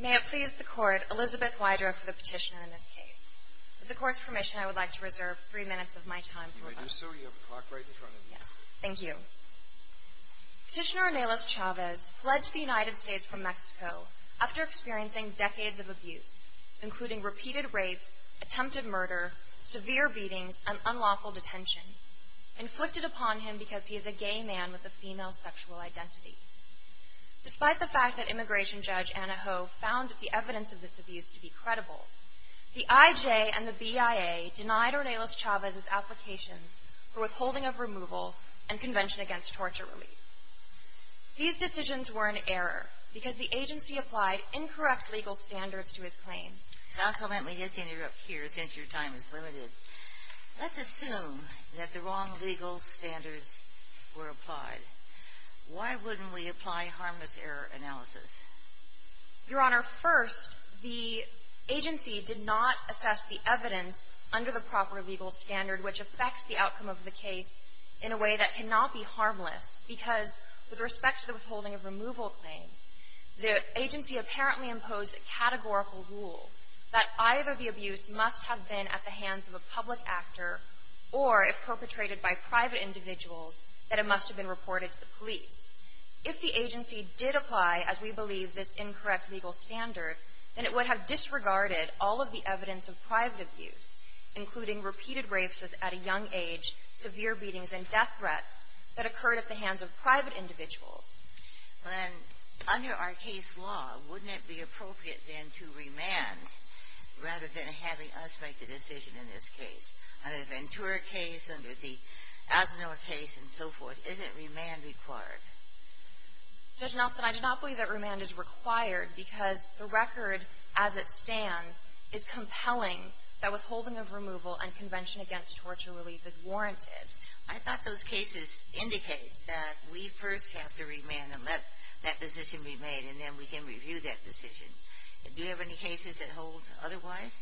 May it please the Court, Elizabeth Wydra for the Petitioner in this case. With the Court's permission, I would like to reserve three minutes of my time for rebuttal. You may do so. You have a clock right in front of you. Yes. Thank you. Petitioner Ornelas-Chavez fled to the United States from Mexico after experiencing decades of abuse, including repeated rapes, attempted murder, severe beatings, and unlawful detention, inflicted upon him because he is a gay man with a female sexual identity. Despite the fact that Immigration Judge Anna Ho found the evidence of this abuse to be credible, the IJ and the BIA denied Ornelas-Chavez's applications for withholding of removal and Convention Against Torture Relief. These decisions were an error because the agency applied incorrect legal standards to his claims. Counsel, let me just interrupt here since your time is limited. Let's assume that the wrong legal standards were applied. Why wouldn't we apply harmless error analysis? Your Honor, first, the agency did not assess the evidence under the proper legal standard which affects the outcome of the case in a way that cannot be harmless because with respect to the withholding of removal claim, the agency apparently imposed a categorical rule that either the abuse must have been at the hands of a public actor or, if perpetrated by private individuals, that it must have been reported to the police. If the agency did apply, as we believe, this incorrect legal standard, then it would have disregarded all of the evidence of private abuse, including repeated rapes at a young age, severe beatings, and death threats that occurred at the hands of private individuals. Well, then, under our case law, wouldn't it be appropriate, then, to remand rather than having us make the decision in this case? Under the Ventura case, under the Asinore case and so forth, isn't remand required? Judge Nelson, I do not believe that remand is required because the record as it stands is compelling that withholding of removal and Convention Against Torture Relief is warranted. I thought those cases indicate that we first have to remand and let that decision be made, and then we can review that decision. Do you have any cases that hold otherwise?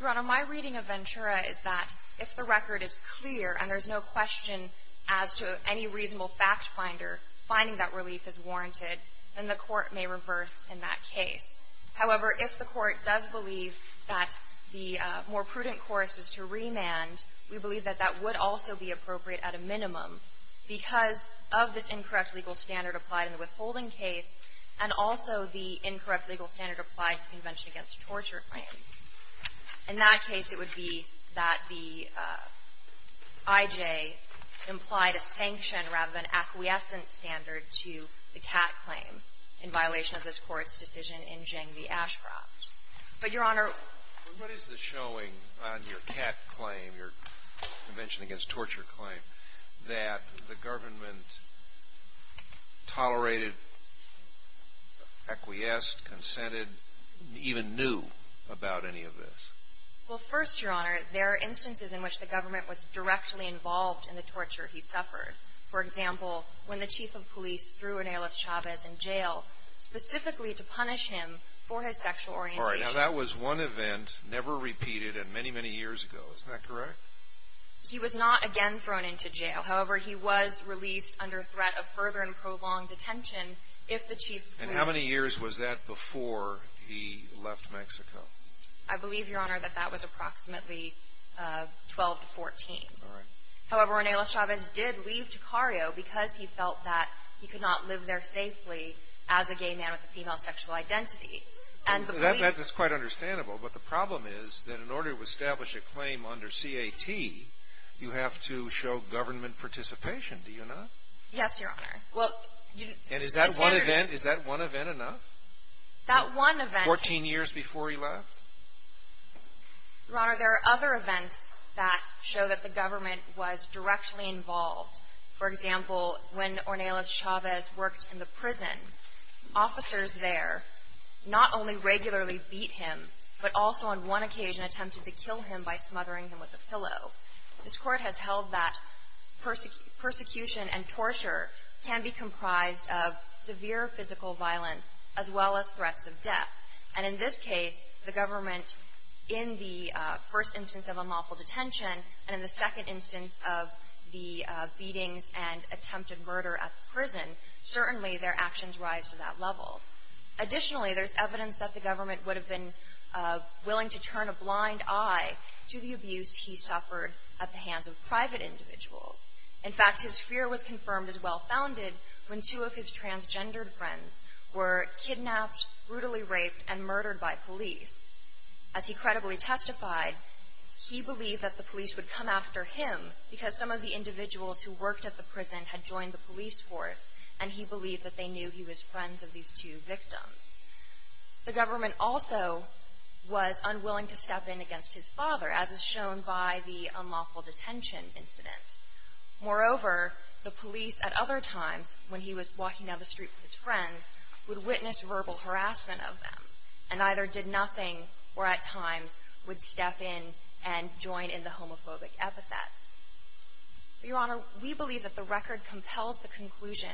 Your Honor, my reading of Ventura is that if the record is clear and there's no question as to any reasonable factfinder finding that relief is warranted, then the court may reverse in that case. However, if the court does believe that the more prudent course is to remand, we believe that that would also be appropriate at a minimum because of this incorrect legal standard applied in the withholding case and also the incorrect legal standard applied in the Convention Against Torture claim. In that case, it would be that the I.J. implied a sanction rather than acquiescent standard to the Catt claim in violation of this Court's decision in Jing v. Ashcroft. But, Your Honor ---- But what is the showing on your Catt claim, your Convention Against Torture claim, that the government tolerated, acquiesced, consented, even knew about any of this? Well, first, Your Honor, there are instances in which the government was directly involved in the torture he suffered. For example, when the chief of police threw Ronelleth Chavez in jail specifically to punish him for his sexual orientation. All right. Now, that was one event never repeated and many, many years ago. Isn't that correct? He was not again thrown into jail. However, he was released under threat of further and prolonged detention if the chief of police ---- And how many years was that before he left Mexico? I believe, Your Honor, that that was approximately 12 to 14. All right. However, Ronelleth Chavez did leave Ticario because he felt that he could not live there safely as a gay man with a female sexual identity. And the police ---- That's quite understandable. But the problem is that in order to establish a claim under Catt, you have to show government participation, do you not? Yes, Your Honor. Well, you ---- And is that one event enough? That one event ---- Fourteen years before he left? Your Honor, there are other events that show that the government was directly involved. For example, when Ronelleth Chavez worked in the prison, officers there not only regularly beat him, but also on one occasion attempted to kill him by smothering him with a pillow. This Court has held that persecution and torture can be comprised of severe physical violence as well as threats of death. And in this case, the government, in the first instance of unlawful detention and in the second instance of the beatings and attempted murder at the prison, certainly their actions rise to that level. Additionally, there's evidence that the government would have been willing to turn a blind eye to the abuse he suffered at the hands of private individuals. In fact, his fear was confirmed as well-founded when two of his transgendered friends were kidnapped, brutally raped, and murdered by police. As he credibly testified, he believed that the police would come after him because some of the individuals who worked at the prison had joined the police force, and he believed that they knew he was friends of these two victims. The government also was unwilling to step in against his father, as is shown by the Moreover, the police at other times, when he was walking down the street with his friends, would witness verbal harassment of them, and either did nothing or at times would step in and join in the homophobic epithets. Your Honor, we believe that the record compels the conclusion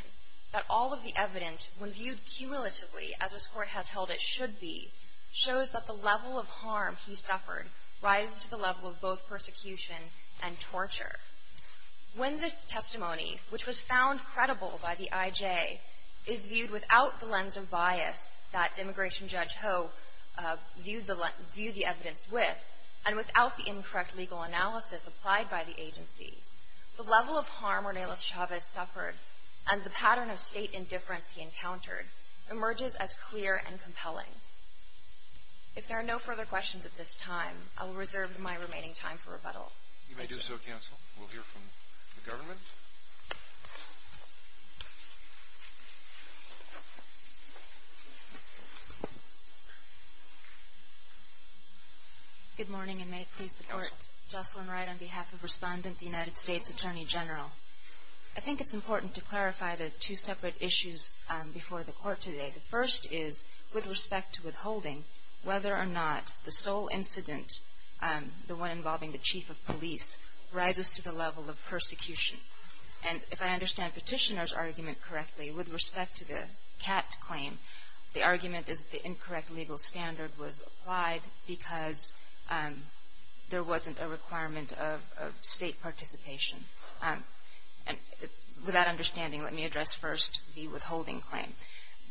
that all of the evidence, when viewed cumulatively as this Court has held it should be, shows that the level of harm he suffered rises to the level of both persecution and torture. When this testimony, which was found credible by the IJ, is viewed without the lens of bias that Immigration Judge Ho viewed the evidence with, and without the incorrect legal analysis applied by the agency, the level of harm Ornelas Chavez suffered and the pattern of state indifference he encountered emerges as clear and compelling. If there are no further questions at this time, I will reserve my remaining time for rebuttal. You may do so, Counsel. We'll hear from the government. Good morning, and may it please the Court. Jocelyn Wright on behalf of Respondent, the United States Attorney General. I think it's important to clarify the two separate issues before the Court today. The first is, with respect to withholding, whether or not the sole incident, the one involving the chief of police, rises to the level of persecution. And if I understand Petitioner's argument correctly, with respect to the Catt claim, the argument is the incorrect legal standard was applied because there wasn't a requirement of state participation. And with that understanding, let me address first the withholding claim.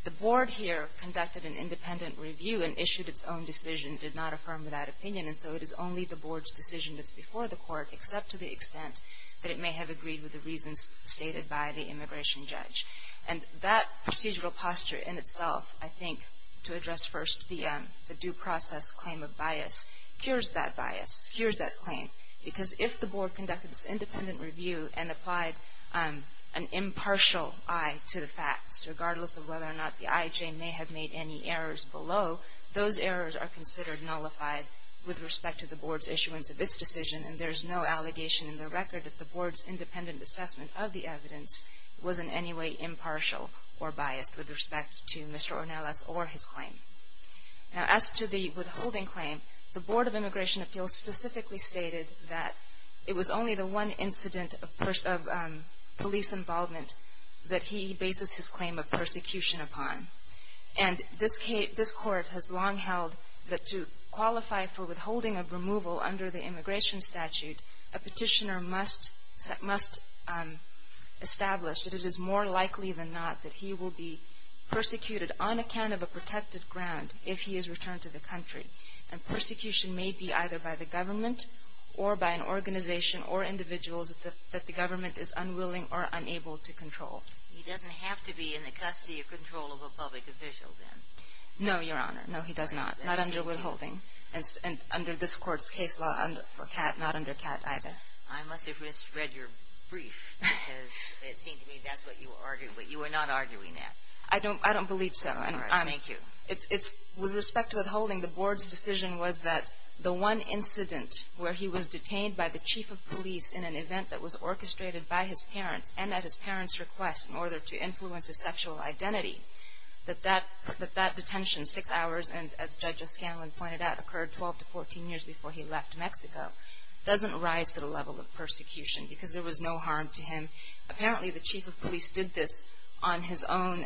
The Board here conducted an independent review and issued its own decision, did not affirm that opinion, and so it is only the Board's decision that's before the Court, except to the extent that it may have agreed with the reasons stated by the immigration judge. And that procedural posture in itself, I think, to address first the due process claim of bias, cures that bias, cures that claim. Because if the Board conducted this independent review and applied an impartial eye to the facts, regardless of whether or not the evidence was considered nullified with respect to the Board's issuance of its decision, and there's no allegation in the record that the Board's independent assessment of the evidence was in any way impartial or biased with respect to Mr. Ornelas or his claim. Now, as to the withholding claim, the Board of Immigration Appeals specifically stated that it was only the one incident of police involvement that he bases his claim of persecution upon. And this Court has long held that to qualify for withholding of removal under the immigration statute, a petitioner must establish that it is more likely than not that he will be persecuted on account of a protected ground if he is returned to the country. And persecution may be either by the government or by an organization or individuals that the government is unwilling or unable to control. He doesn't have to be in the custody or control of a public official, then? No, Your Honor. No, he does not. Not under withholding. And under this Court's case law, not under CAT either. I must have misread your brief because it seemed to me that's what you argued. But you were not arguing that. I don't believe so. All right. Thank you. It's with respect to withholding, the Board's decision was that the one incident where he was detained by the chief of police in an event that was orchestrated by his parents and at his parents' request in order to influence his sexual identity, that that detention, six hours, and as Judge O'Scanlan pointed out, occurred 12 to 14 years before he left Mexico, doesn't rise to the level of persecution because there was no harm to him. Apparently the chief of police did this on his own,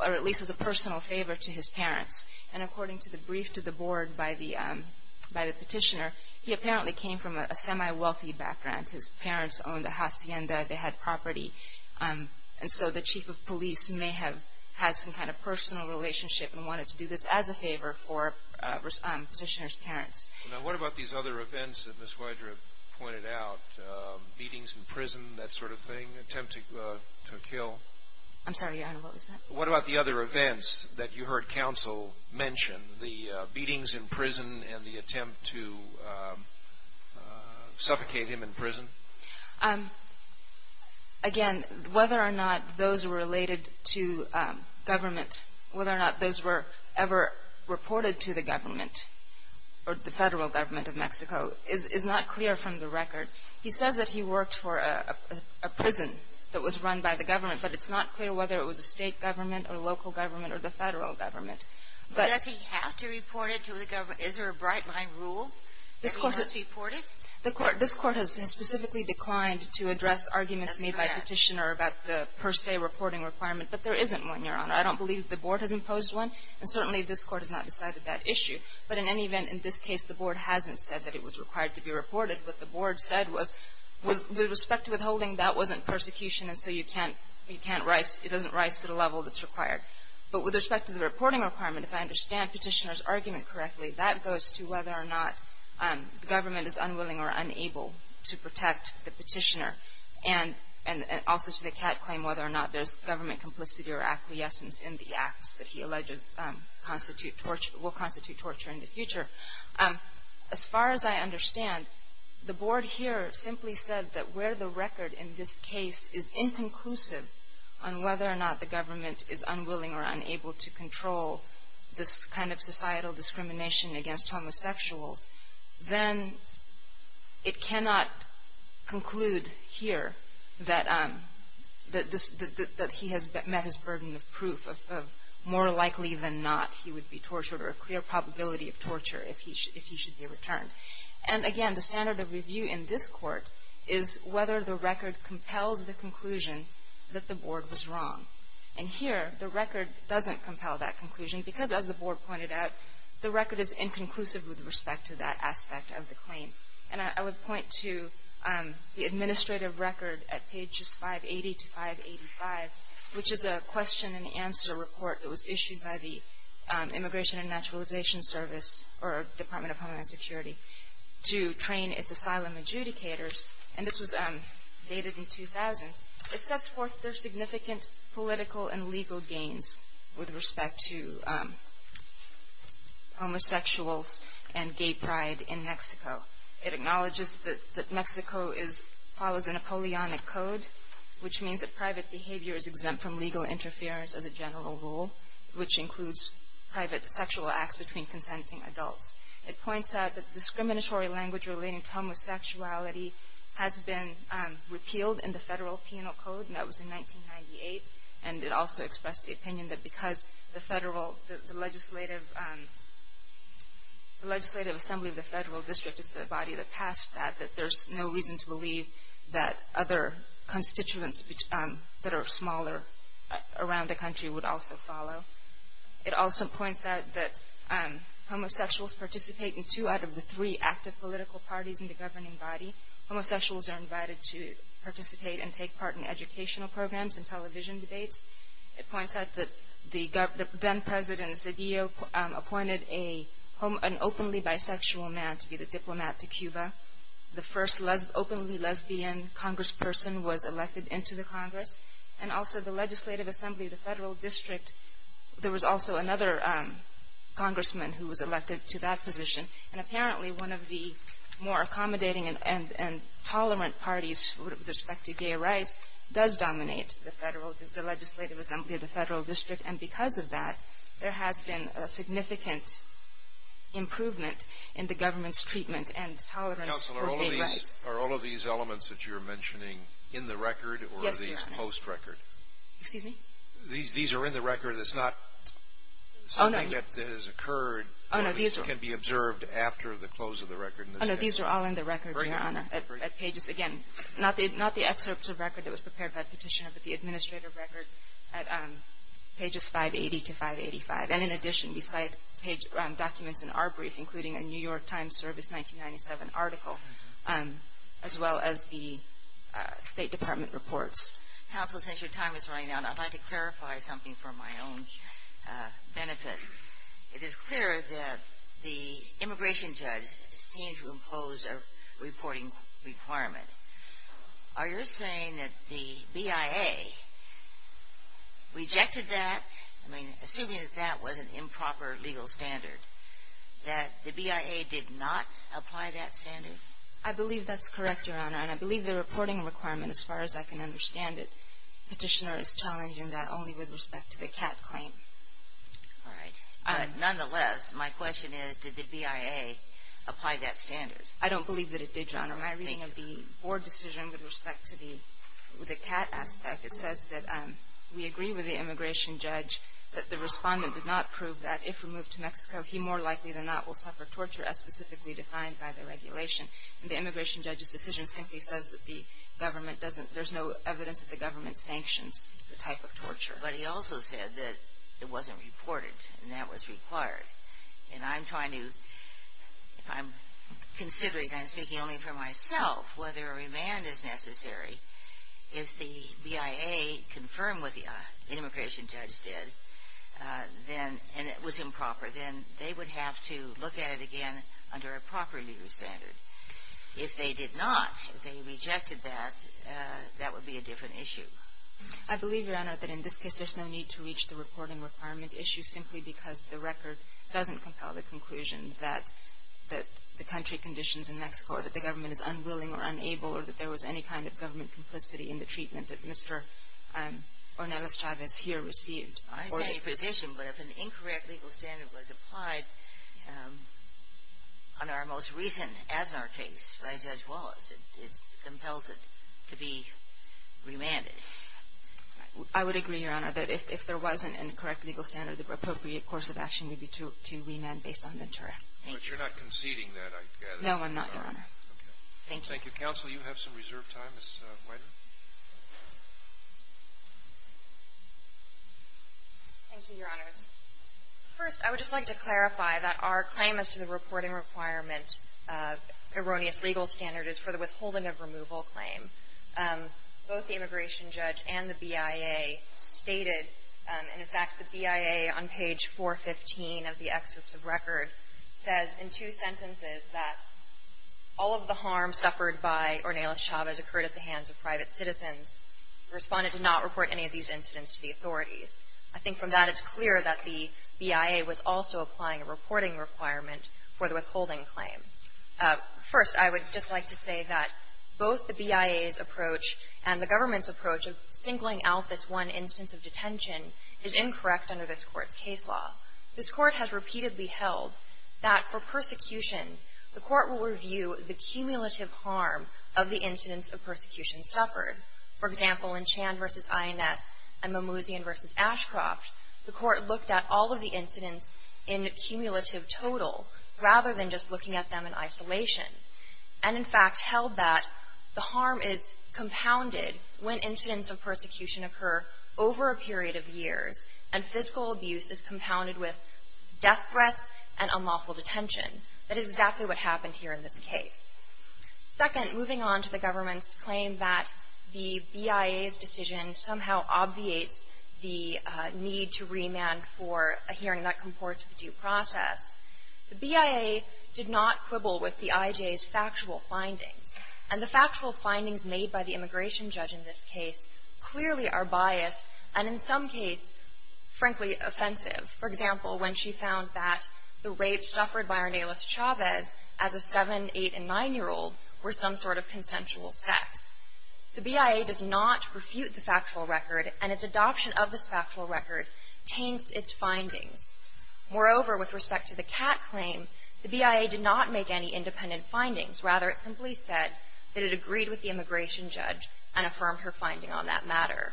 or at least as a personal favor to his parents. And according to the brief to the Board by the petitioner, he apparently came from a And so the chief of police may have had some kind of personal relationship and wanted to do this as a favor for petitioner's parents. Now, what about these other events that Ms. Weidner pointed out, beatings in prison, that sort of thing, attempt to kill? I'm sorry, Your Honor, what was that? What about the other events that you heard counsel mention, the beatings in prison and the attempt to suffocate him in prison? Again, whether or not those were related to government, whether or not those were ever reported to the government or the federal government of Mexico is not clear from the record. He says that he worked for a prison that was run by the government, but it's not clear whether it was a state government or a local government or the federal government. But does he have to report it to the government? Is there a bright-line rule that he must report it? This Court has specifically declined to address arguments made by petitioner about the per se reporting requirement, but there isn't one, Your Honor. I don't believe the Board has imposed one, and certainly this Court has not decided that issue. But in any event, in this case, the Board hasn't said that it was required to be reported. What the Board said was, with respect to withholding, that wasn't persecution, and so you can't rise, it doesn't rise to the level that's required. But with respect to the reporting requirement, if I understand petitioner's government is unwilling or unable to protect the petitioner, and also to the Catt claim whether or not there's government complicity or acquiescence in the acts that he alleges will constitute torture in the future. As far as I understand, the Board here simply said that where the record in this case is inconclusive on whether or not the government is unwilling or unable to protect the petitioner, then it cannot conclude here that he has met his burden of proof of more likely than not he would be tortured or a clear probability of torture if he should be returned. And again, the standard of review in this Court is whether the record compels the conclusion that the Board was wrong. And here, the record doesn't compel that conclusion because, as the Board pointed out, the record is inconclusive with respect to that aspect of the claim. And I would point to the administrative record at pages 580 to 585, which is a question-and-answer report that was issued by the Immigration and Naturalization Service, or Department of Homeland Security, to train its asylum adjudicators. And this was dated in 2000. It sets forth their significant political and legal gains with respect to homosexuals and gay pride in Mexico. It acknowledges that Mexico follows a Napoleonic code, which means that private behavior is exempt from legal interference as a general rule, which includes private sexual acts between consenting adults. It points out that discriminatory language relating to homosexuality has been a federal penal code, and that was in 1998. And it also expressed the opinion that because the legislative assembly of the federal district is the body that passed that, that there's no reason to believe that other constituents that are smaller around the country would also follow. It also points out that homosexuals participate in two out of the three active political parties in the governing body. Homosexuals are invited to participate and take part in educational programs and television debates. It points out that the then-President Zedillo appointed an openly bisexual man to be the diplomat to Cuba. The first openly lesbian congressperson was elected into the Congress. And also the legislative assembly of the federal district, there was also another congressman who was elected to that position. And apparently one of the more accommodating and tolerant parties with respect to gay rights does dominate the federal, is the legislative assembly of the federal district. And because of that, there has been a significant improvement in the government's treatment and tolerance for gay rights. Scalia. Counsel, are all of these elements that you're mentioning in the record or are these post-record? Kagan. Scalia. These are in the record. It's not something that has occurred. Kagan. These are all in the record after the close of the record. Kagan. Oh, no. These are all in the record, Your Honor, at pages, again, not the excerpts of record that was prepared by Petitioner, but the administrative record at pages 580 to 585. And in addition, we cite documents in our brief, including a New York Times Service 1997 article, as well as the State Department reports. Counsel, since your time is running out, I'd like to clarify something for my own benefit. It is clear that the immigration judge seemed to impose a reporting requirement. Are you saying that the BIA rejected that? I mean, assuming that that was an improper legal standard, that the BIA did not apply that standard? I believe that's correct, Your Honor. And I believe the reporting requirement, as far as I can understand it, Petitioner is challenging that only with respect to the CAT claim. All right. Nonetheless, my question is, did the BIA apply that standard? I don't believe that it did, Your Honor. My reading of the board decision with respect to the CAT aspect, it says that we agree with the immigration judge that the respondent did not prove that if removed to Mexico, he more likely than not will suffer torture as specifically defined by the regulation. And the immigration judge's decision simply says that the government doesn't, there's no evidence that the government sanctions the type of torture. But he also said that it wasn't reported, and that was required. And I'm trying to, I'm considering, and I'm speaking only for myself, whether a remand is necessary. If the BIA confirmed what the immigration judge did, and it was improper, then they would have to look at it again under a proper legal standard. If they did not, if they rejected that, that would be a different issue. I believe, Your Honor, that in this case, there's no need to reach the reporting requirement issue simply because the record doesn't compel the conclusion that the country conditions in Mexico, or that the government is unwilling or unable, or that there was any kind of government complicity in the treatment that Mr. Ornelas Chavez here received. I would agree, Your Honor, that if there was an incorrect legal standard, the appropriate course of action would be to remand based on Ventura. Thank you. But you're not conceding that, I gather. No, I'm not, Your Honor. Okay. Thank you. Thank you. Counsel, you have some reserved time. Ms. Weider? Thank you, Your Honors. First, I would just like to clarify that our claim as to the reporting requirement erroneous legal standard is for the withholding of removal claim. Both the immigration judge and the BIA stated, and in fact, the BIA on page 415 of the excerpts of record says in two sentences that all of the harm suffered by Ornelas Chavez occurred at the hands of private citizens. Respondent did not report any of these incidents to the authorities. I think from that, it's clear that the BIA was also applying a reporting requirement for the withholding claim. First, I would just like to say that both the BIA's approach and the government's approach of singling out this one instance of detention is incorrect under this Court's case law. This Court has repeatedly held that for persecution, the Court will review the cumulative harm of the incidents of persecution suffered. For example, in Chan v. INS and Mimouzian v. Ashcroft, the Court looked at all of the incidents in a cumulative total rather than just looking at them in isolation, and in fact held that the harm is compounded when incidents of persecution occur over a period of years, and fiscal abuse is compounded with death threats and unlawful detention. That is exactly what happened here in this case. Second, moving on to the government's claim that the BIA's decision somehow obviates the need to remand for a hearing that comports with due process, the BIA did not quibble with the IJ's factual findings. And the factual findings made by the immigration judge in this case clearly are biased and in some case, frankly, offensive. For example, when she found that the rapes suffered by Arnelas Chavez as a 7-, 8-, and 9-year-old were some sort of consensual sex. The BIA does not refute the factual record, and its adoption of this factual record taints its findings. Moreover, with respect to the Catt claim, the BIA did not make any independent findings. Rather, it simply said that it agreed with the immigration judge and affirmed her finding on that matter.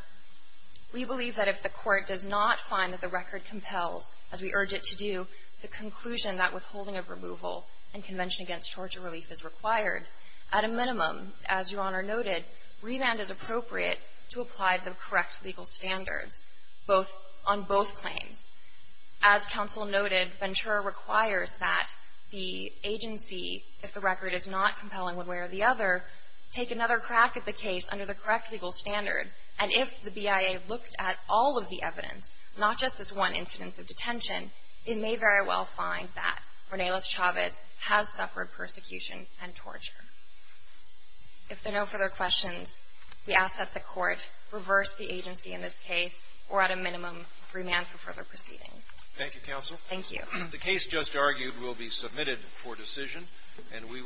We believe that if the court does not find that the record compels, as we urge it to do, the conclusion that withholding of removal and convention against torture relief is required, at a minimum, as Your Honor noted, remand is appropriate to apply to the correct legal standards on both claims. As counsel noted, Ventura requires that the agency, if the record is not compelling one way or the other, take another crack at the case under the correct legal standard. And if the BIA looked at all of the evidence, not just this one incidence of detention, it may very well find that Arnelas Chavez has suffered persecution and torture. If there are no further questions, we ask that the court reverse the agency in this case, or at a minimum, remand for further proceedings. Thank you, counsel. Thank you.